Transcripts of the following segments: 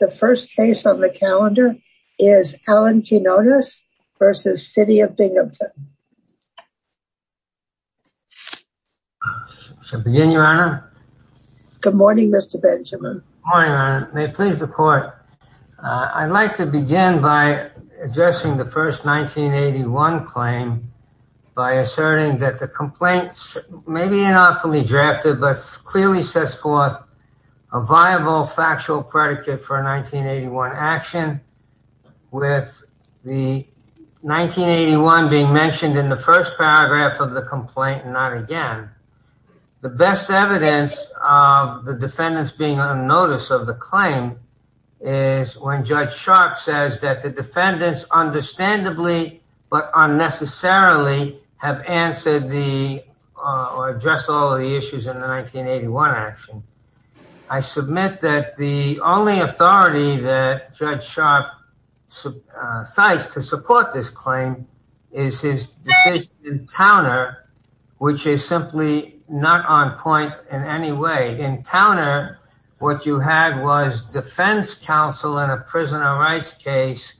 The first case on the calendar is Allen Quinones v. City of Binghampton. I shall begin, Your Honor. Good morning, Mr. Benjamin. Good morning, Your Honor. May it please the court. I'd like to begin by addressing the first 1981 claim by asserting that the complaint may be unoptimally drafted but clearly sets forth a viable factual predicate for a 1981 action with the 1981 being mentioned in the first paragraph of the complaint and not again. The best evidence of the defendants being on notice of the claim is when Judge Sharp says that the defendants understandably but unnecessarily have answered the or addressed all of the issues in the 1981 action. I submit that the only authority that Judge Sharp cites to support this claim is his decision in Towner which is simply not on point in any way. In Towner what you had was defense counsel in a prisoner of rights case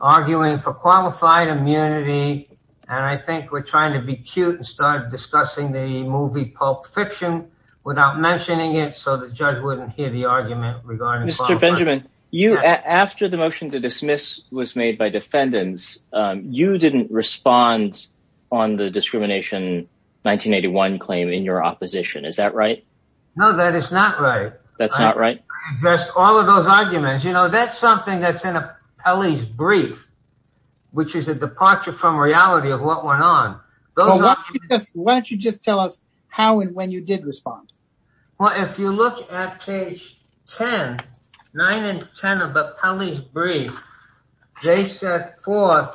arguing for qualified immunity and I think we're trying to be cute and start discussing the movie Pulp Fiction without mentioning it so the judge wouldn't hear the argument regarding Mr. Benjamin. You after the motion to dismiss was made by defendants you didn't respond on the discrimination 1981 claim in your opposition is that right? No that is not right. That's not right? Just all of those arguments you know that's something that's in a Pelley's brief which is a departure from reality of what went on. Why don't you just tell us how and when you did respond? Well if you look at page 10 9 and 10 of the Pelley's brief they set forth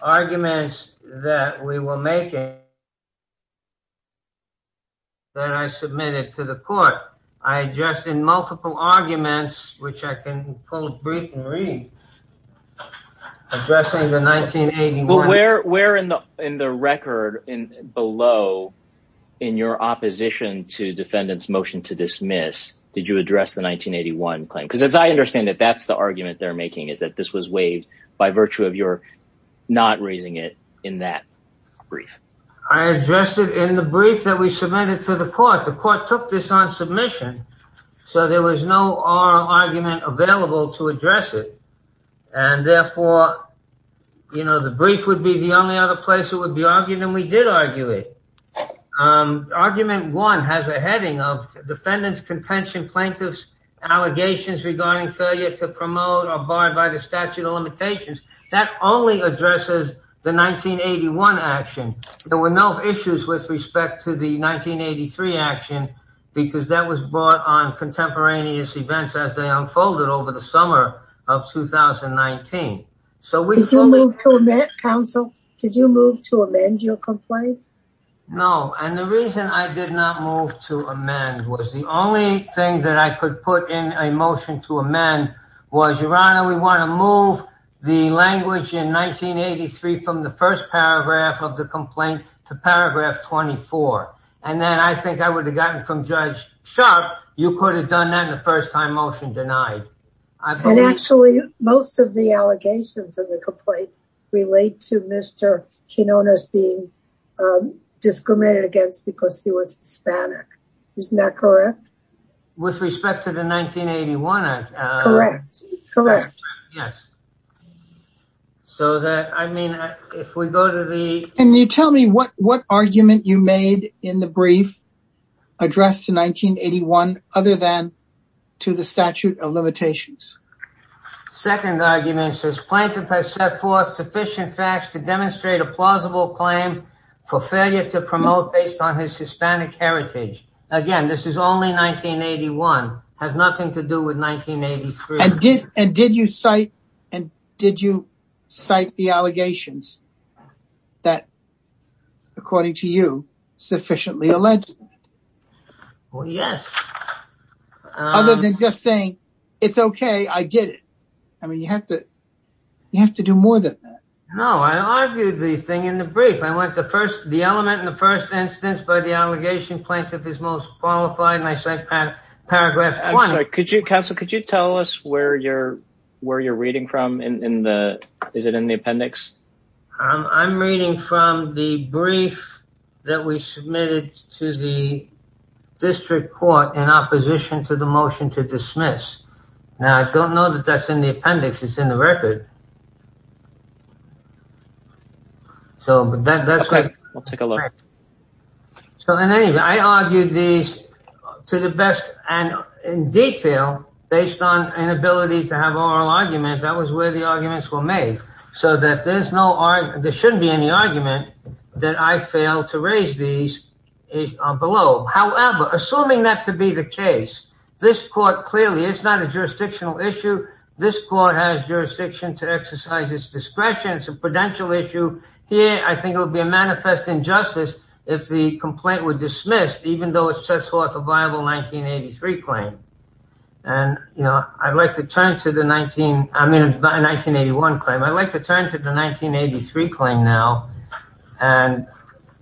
arguments that we were making that I submitted to the court. I addressed in multiple arguments which I can quote brief and read addressing the 1981. Well where where in the in the record in below in your opposition to defendant's motion to dismiss did you address the 1981 claim? Because as I understand it that's the argument they're making is that this was waived by virtue of your not raising it in that brief. I addressed it in the brief that we submitted to the court. The court took this on submission so there was no oral argument available to address it and therefore you know the brief would be the only other place it would be argued and we did argue it. Argument one has a heading of defendants contention plaintiffs allegations regarding failure to promote or barred by the statute of limitations that only addresses the 1981 action. There were no issues with respect to the 1983 action because that was brought on contemporaneous events as they unfolded over the summer of 2019. Did you move to amend counsel? Did you move to amend your complaint? No and the reason I did not move to amend was the only thing that I could put in a motion to amend was your honor we want to move the language in 1983 from the first paragraph of the complaint to paragraph 24 and then I think I would have gotten from Judge Sharp you could have done that in the first time motion denied. And actually most of the allegations of the complaint relate to Mr. Quinonez being discriminated against because he was Hispanic isn't that correct? With respect to the 1981 correct correct yes so that I mean if we go to the and you tell me what what argument you made in the brief addressed to 1981 other than to the statute of limitations. Second argument says plaintiff has set forth sufficient facts to demonstrate a plausible claim for failure to promote based on his Hispanic heritage. Again this is only 1981 has nothing to do with 1983. And did and did you cite and did you cite the allegations that according to you sufficiently alleged? Well yes. Other than just saying it's okay I did it I mean you have to you have to do more than that. No I argued the thing in the brief I went the first the element in the first instance by the allegation plaintiff is most qualified and I said paragraph. I'm sorry could you counsel could you tell us where you're where you're reading from in the is it in the appendix? I'm reading from the brief that we submitted to the district court in opposition to the motion to dismiss. Now I don't know that that's in the appendix it's in the record so but that's okay we'll take a look. So in any way I argued these to the best and in detail based on an ability to have oral argument that was where the arguments were made so that there's no argument there shouldn't be any argument that I failed to raise these is below. However assuming that to be the case this court clearly it's not a jurisdictional issue this court has jurisdiction to exercise its discretion it's a prudential issue here I think it would be a manifest injustice if the complaint were dismissed even though it sets forth a viable 1983 claim and you know I'd like to turn to the 19 I mean by 1981 claim I'd like to turn to the 1983 claim now and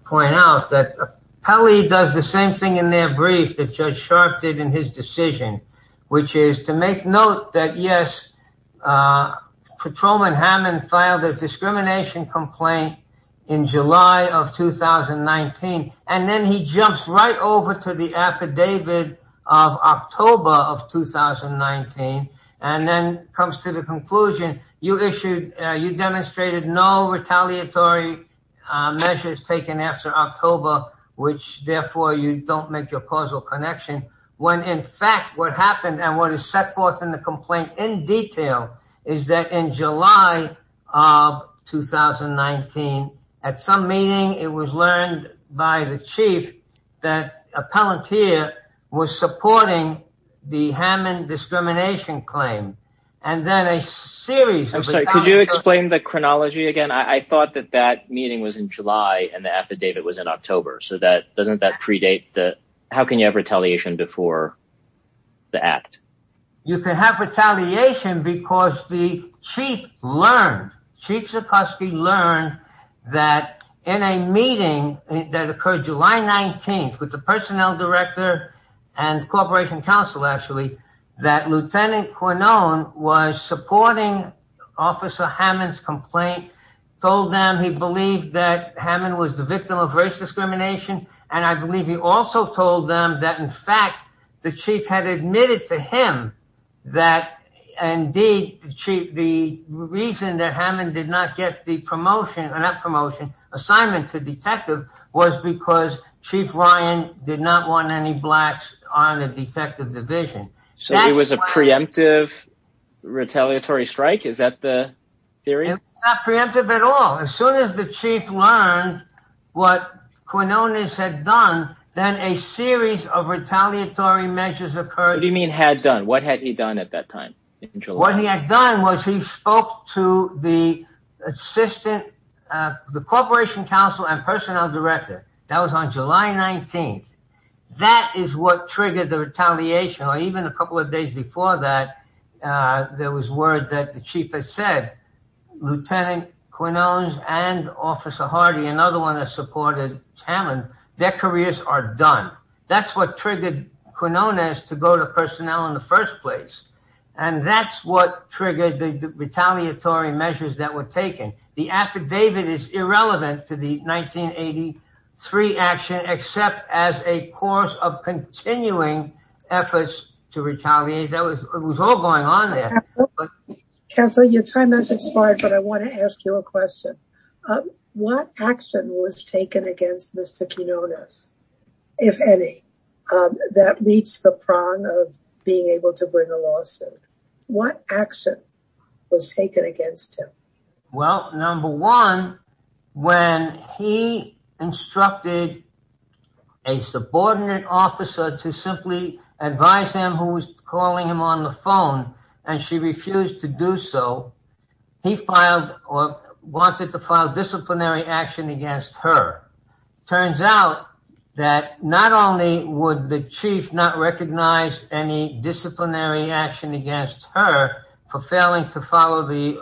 point out that Pelley does the same thing in their brief that Judge Sharp did in his decision which is to make note that yes Patrolman Hammond filed a discrimination complaint in July of 2019 and then he jumps right over to the affidavit of October of 2019 and then comes to the conclusion you issued you demonstrated no retaliatory measures taken after October which therefore you don't make your causal connection when in fact what happened and what is set forth in the complaint in detail is that in July of 2019 at some meeting it was learned by the chief that appellant here was supporting the Hammond discrimination claim and then a series I'm sorry could you explain the chronology again I thought that that meeting was in July and the affidavit was in October so that doesn't that predate the how can you have retaliation before the act you can have retaliation because the chief learned Chief Zukoski learned that in a meeting that occurred July 19th with the personnel director and corporation council actually that Lieutenant Quinone was supporting Officer Hammond's complaint told them he believed that Hammond was the victim of race discrimination and I believe he also told them that in fact the chief had admitted to him that indeed the reason that Hammond did not get the promotion and that promotion assignment to detective was because Chief Ryan did not want any blacks on the detective division so it was a preemptive retaliatory strike is that the theory it's not the chief learned what Quinonez had done then a series of retaliatory measures occurred do you mean had done what had he done at that time what he had done was he spoke to the assistant the corporation council and personnel director that was on July 19th that is what triggered the retaliation or even a couple of days before that there was word that the chief has said Lieutenant Quinonez and Officer Hardy another one that supported Hammond their careers are done that's what triggered Quinonez to go to personnel in the first place and that's what triggered the retaliatory measures that were taken the affidavit is irrelevant to the 1983 action except as a course of continuing efforts to retaliate that was it was all going on there counsel your time has expired but I want to ask you a question what action was taken against Mr Quinonez if any that reached the prong of being able to bring a lawsuit what action was taken against him well number one when he instructed a subordinate officer to simply advise him who refused to do so he filed or wanted to file disciplinary action against her turns out that not only would the chief not recognize any disciplinary action against her for failing to follow the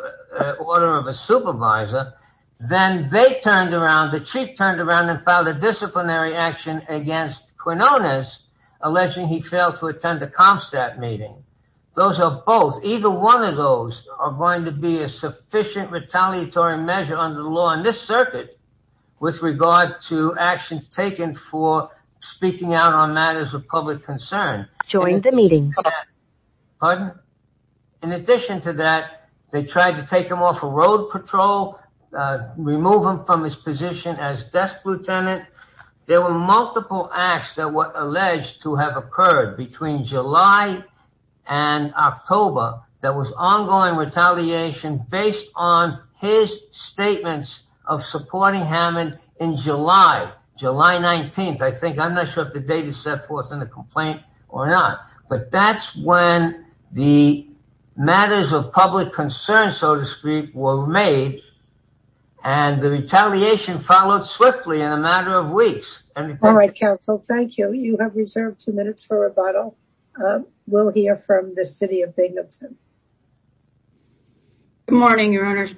order of a supervisor then they turned around the chief turned around and filed a disciplinary action against Quinonez alleging he failed to attend the comp stat meeting those are both either one of those are going to be a sufficient retaliatory measure under the law in this circuit with regard to actions taken for speaking out on matters of public concern join the meeting pardon in addition to that they tried to take him off a road patrol remove him from his position as desk lieutenant there were multiple acts that were alleged to have occurred between july and october that was ongoing retaliation based on his statements of supporting hammond in july july 19th I think I'm not sure if the data set forth in the complaint or not but that's when the matters of public concern so to speak were made and the retaliation followed swiftly in a matter of weeks and all right counsel thank you you have reserved two minutes for rebuttal we'll hear from the city of binghamton good morning your honors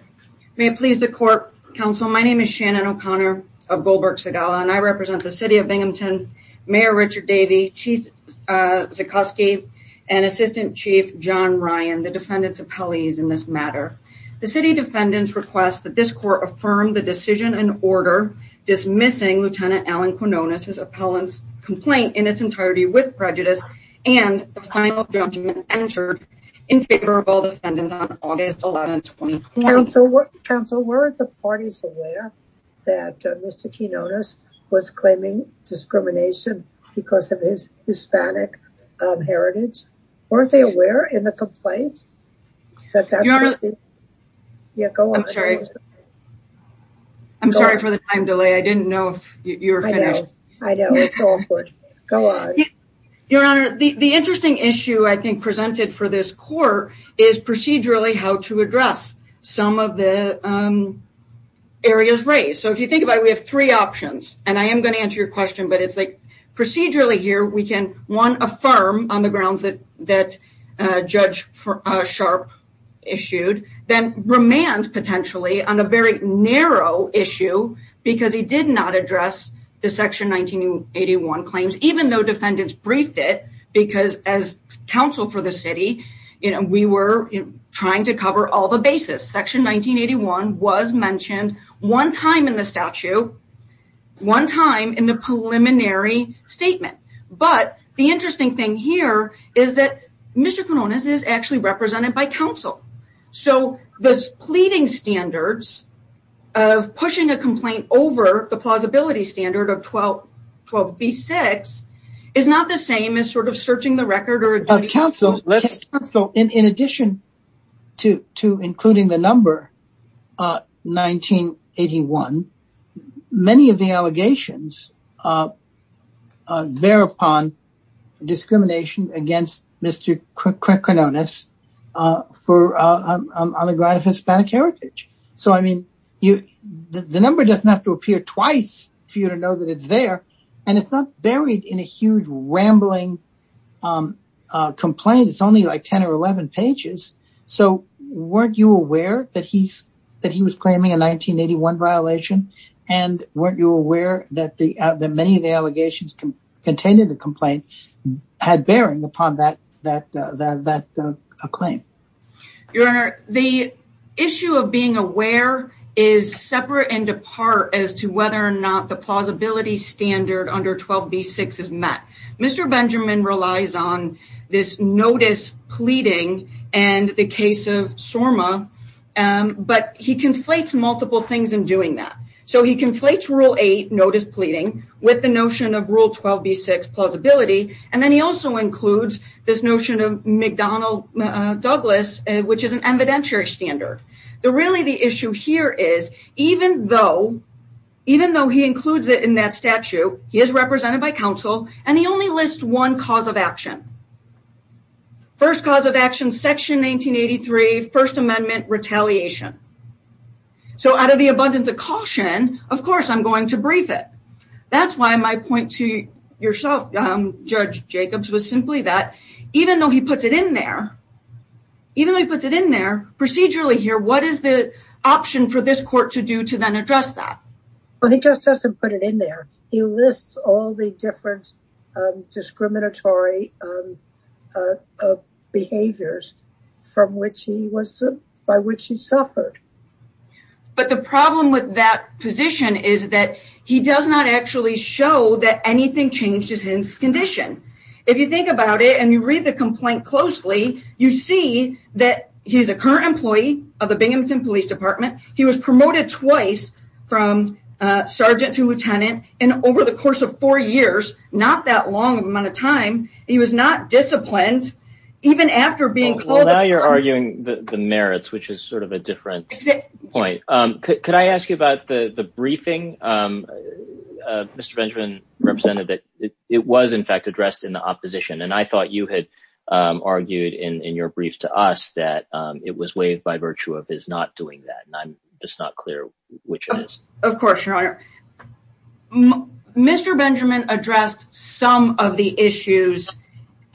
may it please the court counsel my name is shannon o'connor of goldberg segala and i represent the city of binghamton mayor richard davey chief uh zakowski and assistant chief john ryan the defendant's appellees in this matter the city defendants request that this court affirm the decision and order dismissing lieutenant alan quinonez appellant's complaint in its entirety with prejudice and the final judgment entered in favor of all defendants on august 11 20 council council where are the parties aware that mr quinones was claiming discrimination because of his hispanic heritage weren't they aware in the complaint that that you're yeah go on i'm sorry i'm sorry for the time delay i didn't know if you're finished i know it's all good go on your honor the the interesting issue i think presented for this court is procedurally how to address some of the um areas raised so if you think about it we have three options and i am going to answer your question but it's like procedurally here we can one affirm on the grounds that that uh judge uh sharp issued then remand potentially on a very narrow issue because he did not address the section 1981 claims even though defendants briefed it because as council for the city you know we were trying to cover all the bases section 1981 was mentioned one time in the statute one time in the preliminary statement but the interesting thing here is that mr quinones is actually represented by council so the pleading standards of pushing a complaint over the plausibility standard of 12 12 b6 is not the same as sort of searching the record or council let's so in in addition to to including the number uh 1981 many of the allegations uh uh thereupon discrimination against mr quinones uh for on the ground of hispanic heritage so i mean you the number doesn't have to appear twice for you to know that it's there and it's not buried in a huge rambling um uh complaint it's only like 10 or 11 pages so weren't you aware that he's that he was claiming a 1981 violation and weren't you aware that the many of the allegations contained in the complaint had bearing upon that that that uh claim your honor the issue of being aware is separate and apart as to whether or not the plausibility standard under 12 b6 is met mr benjamin relies on this notice pleading and the case of sorma um but he conflates multiple things in doing that so he conflates rule 8 notice pleading with the notion of rule 12 b6 plausibility and then he also includes this notion of mcdonnell douglas which is an evidentiary standard the really the issue here is even though even though he includes it in that statute he is represented by council and he only lists one cause of action first cause of action section 1983 first amendment retaliation so out of the abundance of caution of course i'm going to brief it that's why my point to yourself um judge jacobs was simply that even though he puts it in there even though he puts it in there procedurally here what is the option for this court to do to then address that well just doesn't put it in there he lists all the different discriminatory behaviors from which he was by which he suffered but the problem with that position is that he does not actually show that anything changed his condition if you think about it and you read the complaint closely you see that he's a current employee of the binghamton police department he was promoted twice from sergeant to lieutenant and over the course of four years not that long amount of time he was not disciplined even after being called well now you're arguing the merits which is sort of a different point um could i ask you about the the briefing um mr benjamin represented that it was in fact addressed in the opposition and i thought you had um argued in in your brief to us that um it was waived by virtue of his not doing that and i'm just not clear which it is of course your honor mr benjamin addressed some of the issues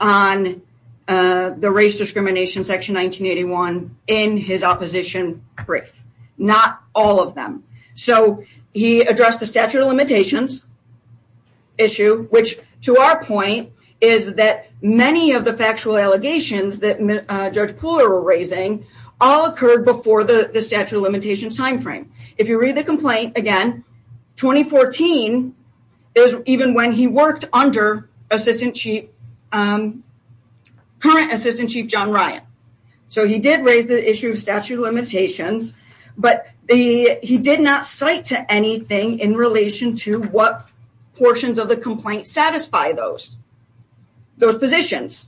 on uh the race discrimination section 1981 in his opposition brief not all of them so he actual allegations that judge puller were raising all occurred before the the statute of limitations time frame if you read the complaint again 2014 is even when he worked under assistant chief um current assistant chief john ryan so he did raise the issue of statute of limitations but the he did not cite to anything in relation to what portions of the complaint satisfy those those positions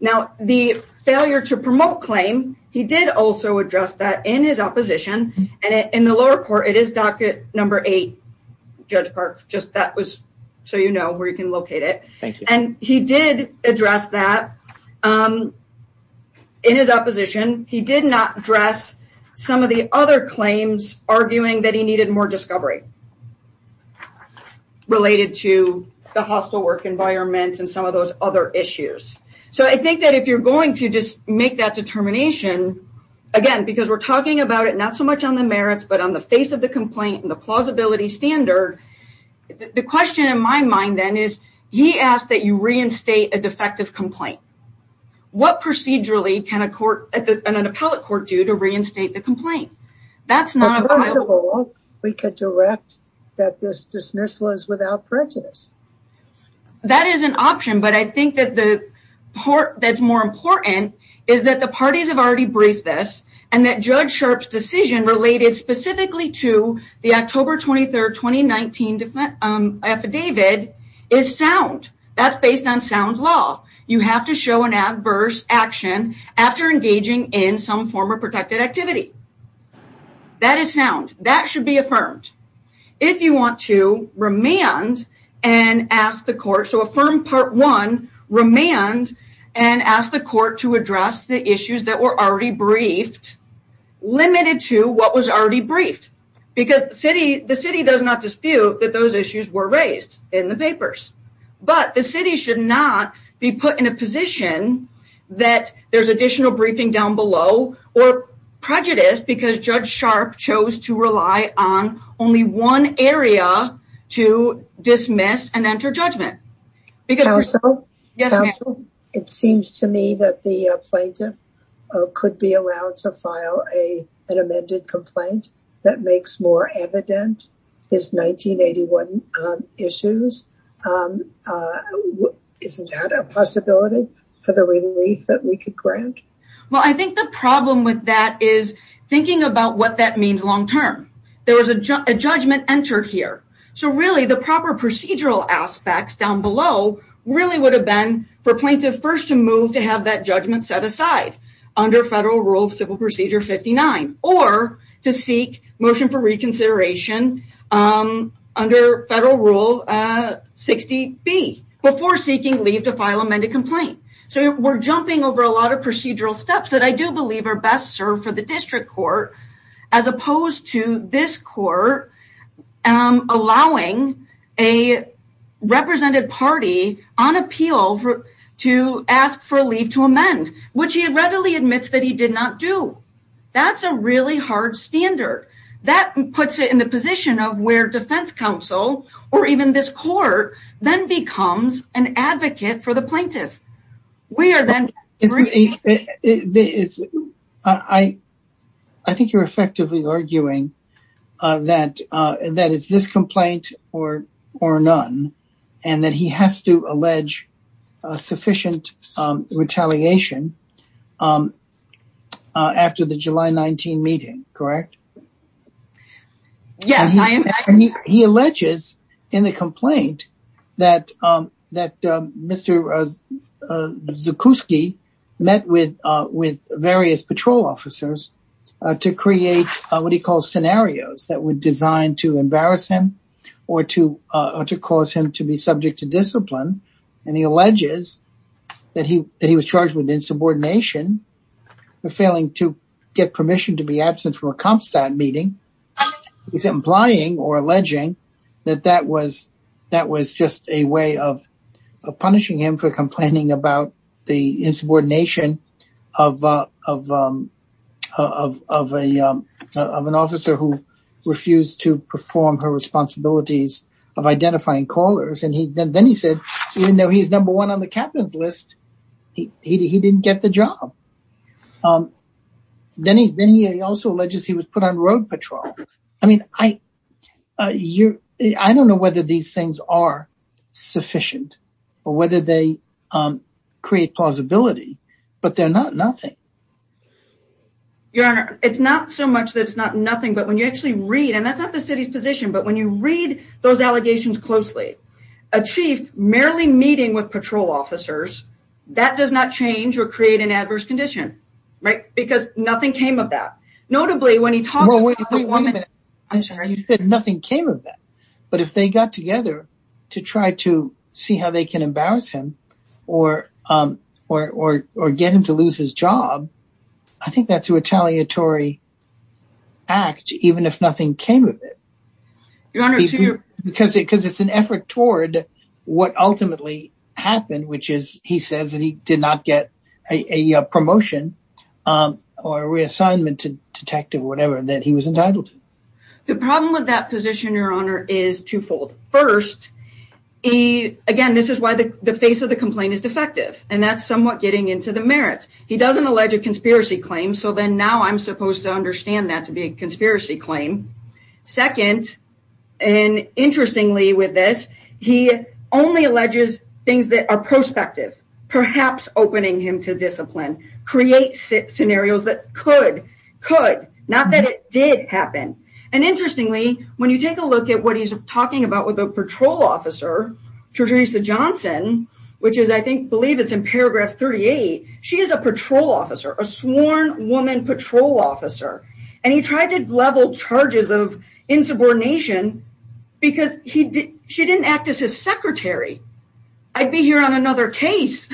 now the failure to promote claim he did also address that in his opposition and in the lower court it is docket number eight judge park just that was so you know where you can locate it thank you and he did address that um in his opposition he did not address some of the other claims arguing that he needed more discovery related to the hostile work environment and some of those other issues so i think that if you're going to just make that determination again because we're talking about it not so much on the merits but on the face of the complaint and the plausibility standard the question in my mind then is he asked that you reinstate a defective complaint what procedurally can a court at an institution do to reinstate the complaint that's not available we could direct that this dismissal is without prejudice that is an option but i think that the part that's more important is that the parties have already briefed this and that judge sharp's decision related specifically to the october 23rd 2019 different um affidavit is sound that's based on sound law you have to an adverse action after engaging in some form of protected activity that is sound that should be affirmed if you want to remand and ask the court so affirm part one remand and ask the court to address the issues that were already briefed limited to what was already briefed because city the city does not dispute that those issues were raised in the papers but the city should not be put in a position that there's additional briefing down below or prejudice because judge sharp chose to rely on only one area to dismiss and enter judgment because it seems to me that the plaintiff could be allowed to file a an amended complaint that makes more evident his 1981 issues isn't that a possibility for the relief that we could grant well i think the problem with that is thinking about what that means long term there was a judgment entered here so really the proper procedural aspects down below really would have been for plaintiff first to move to have that judgment set aside under federal rule civil procedure 59 or to seek motion for reconsideration under federal rule 60 b before seeking leave to file amended complaint so we're jumping over a lot of procedural steps that i do believe are best served for the district court as opposed to this court allowing a represented party on appeal for to ask for puts it in the position of where defense counsel or even this court then becomes an advocate for the plaintiff we are then it's i i think you're effectively arguing uh that uh that it's this complaint or or none and that he has to allege a sufficient um retaliation um after the july 19 correct yes he alleges in the complaint that um that uh mr uh zuckowski met with uh with various patrol officers to create what he calls scenarios that were designed to embarrass him or to uh to cause him to be subject to discipline and he alleges that he that he was charged with from a comp stat meeting he's implying or alleging that that was that was just a way of punishing him for complaining about the insubordination of uh of um of of a um of an officer who refused to perform her responsibilities of identifying callers and he then he said even he's number one on the captain's list he he didn't get the job um then he then he also alleges he was put on road patrol i mean i uh you i don't know whether these things are sufficient or whether they um create plausibility but they're not nothing your honor it's not so much that it's not nothing but when you actually read and that's the city's position but when you read those allegations closely a chief merely meeting with patrol officers that does not change or create an adverse condition right because nothing came of that notably when he talks about the woman i'm sorry you said nothing came of that but if they got together to try to see how they can embarrass him or um or or get him to lose his job i think that's a retaliatory act even if nothing came of it your honor because it because it's an effort toward what ultimately happened which is he says that he did not get a a promotion um or reassignment to detective whatever that he was entitled to the problem with that position your honor is twofold first he again this is why the the face of the complaint is defective and that's somewhat getting into the merits he doesn't allege a conspiracy claim so then now i'm supposed to understand that to be a conspiracy claim second and interestingly with this he only alleges things that are prospective perhaps opening him to discipline create scenarios that could could not that it did happen and interestingly when you take a look at what he's talking about with a patrol officer teresa johnson which is i think believe it's in paragraph 38 she is a patrol officer a sworn woman patrol officer and he tried to level charges of insubordination because he did she didn't act as his secretary i'd be here on another case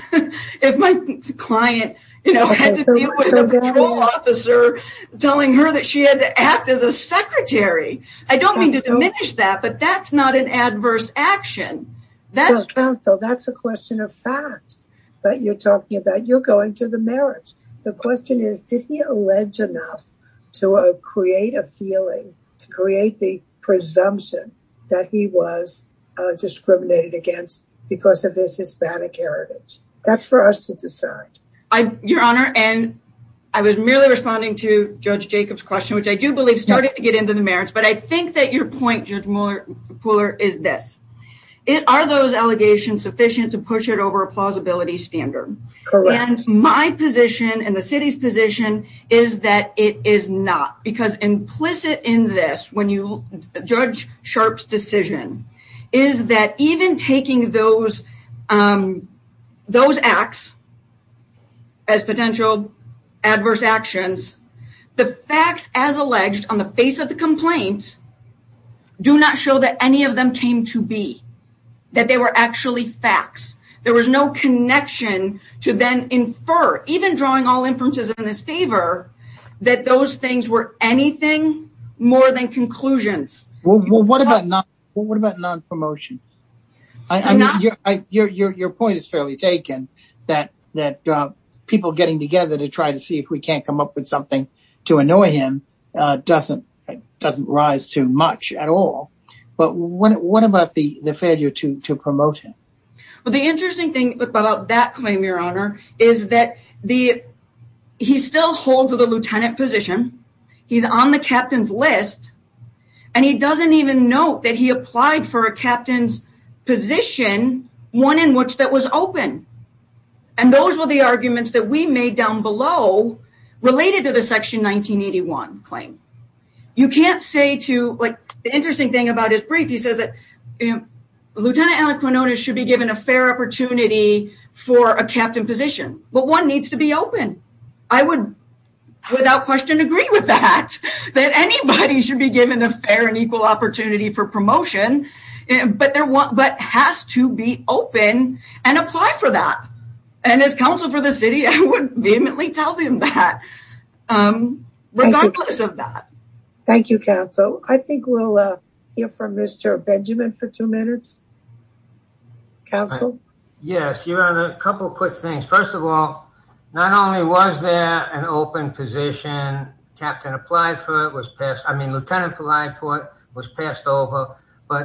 if my client you know had to deal with a patrol officer telling her that she had to act as a secretary i don't mean to diminish that but that's not an action that's counsel that's a question of fact but you're talking about you're going to the marriage the question is did he allege enough to create a feeling to create the presumption that he was uh discriminated against because of his hispanic heritage that's for us to decide i your honor and i was merely responding to judge jacob's question which i do believe started to get into the marriage but i think that your point judge moore pooler is this it are those allegations sufficient to push it over a plausibility standard correct and my position and the city's position is that it is not because implicit in this when you judge sharp's decision is that even taking those um those acts as potential adverse actions the facts as alleged on the face of the complaints do not show that any of them came to be that they were actually facts there was no connection to then infer even drawing all inferences in his favor that those things were anything more than conclusions well what about not what about non-promotion i mean your your your point is fairly taken that that uh people getting together to try to see if we can't come up with something to annoy him uh doesn't doesn't rise too much at all but what what about the the failure to to promote him well the interesting thing about that claim your honor is that the he still holds the lieutenant position he's on the captain's list and he doesn't even note that he applied for a captain's position one in which that was open and those were the arguments that we made down below related to the section 1981 claim you can't say to like the interesting thing about his brief he says that you know lieutenant alan quinones should be given a fair opportunity for a captain position but one needs to be open i would without question agree with that that anybody should be given a fair and equal opportunity for promotion but there was but has to be open and apply for that and as council for the city i would vehemently tell them that um regardless of that thank you council i think we'll uh hear from mr benjamin for two minutes council yes your honor a couple quick things first of all not only was there an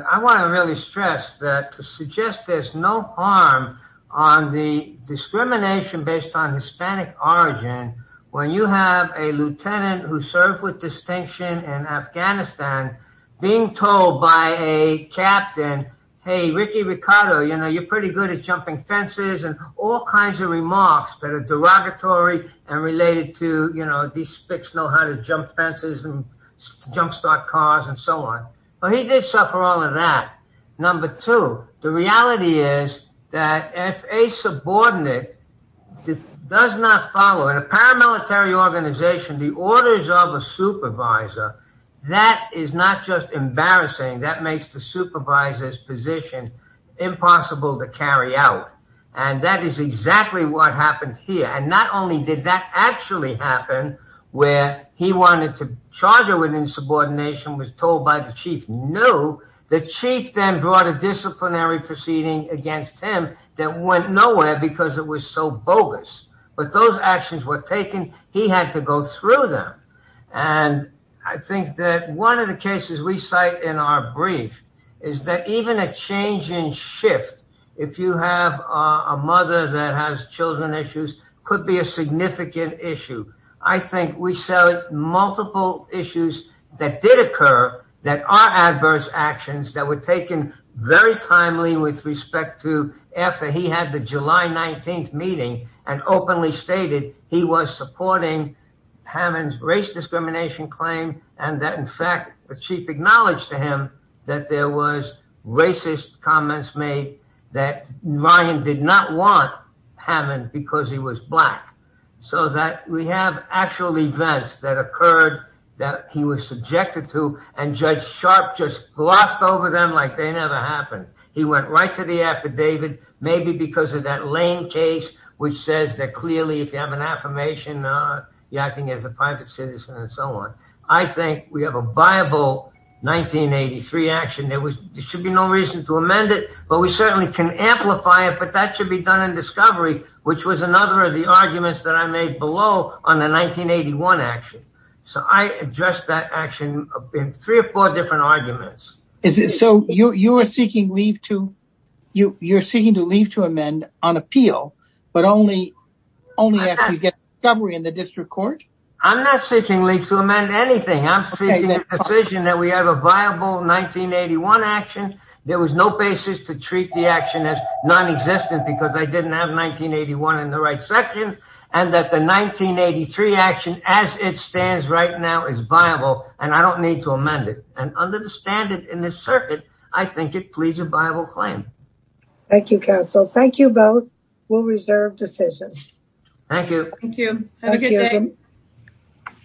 i want to really stress that to suggest there's no harm on the discrimination based on hispanic origin when you have a lieutenant who served with distinction in afghanistan being told by a captain hey ricky ricardo you know you're pretty good at jumping fences and all kinds of remarks that are derogatory and related to you know these spics know how to jump fences and and so on but he did suffer all of that number two the reality is that if a subordinate does not follow in a paramilitary organization the orders of a supervisor that is not just embarrassing that makes the supervisor's position impossible to carry out and that is exactly what was told by the chief no the chief then brought a disciplinary proceeding against him that went nowhere because it was so bogus but those actions were taken he had to go through them and i think that one of the cases we cite in our brief is that even a change in shift if you have a mother that did occur that are adverse actions that were taken very timely with respect to after he had the july 19th meeting and openly stated he was supporting hammond's race discrimination claim and that in fact the chief acknowledged to him that there was racist comments made that ryan did not want hammond because he was black so that we have actual events that occurred that he was subjected to and judge sharp just glossed over them like they never happened he went right to the affidavit maybe because of that lane case which says that clearly if you have an affirmation uh you're acting as a private citizen and so on i think we have a viable 1983 action there was there should be no reason to amend it but we certainly can amplify it but that should be done in discovery which was another of the arguments that i made below on the 1981 action so i addressed that action in three or four different arguments is it so you you are seeking leave to you you're seeking to leave to amend on appeal but only only after you get discovery in the district court i'm not seeking leave to amend anything i'm seeking a decision that we have a viable 1981 action there was no basis to treat the action as non-existent because i didn't have 1981 in the right section and that the 1983 action as it stands right now is viable and i don't need to amend it and under the standard in this circuit i think it pleads a viable claim thank you counsel thank you both we'll reserve decisions thank you thank you have a good day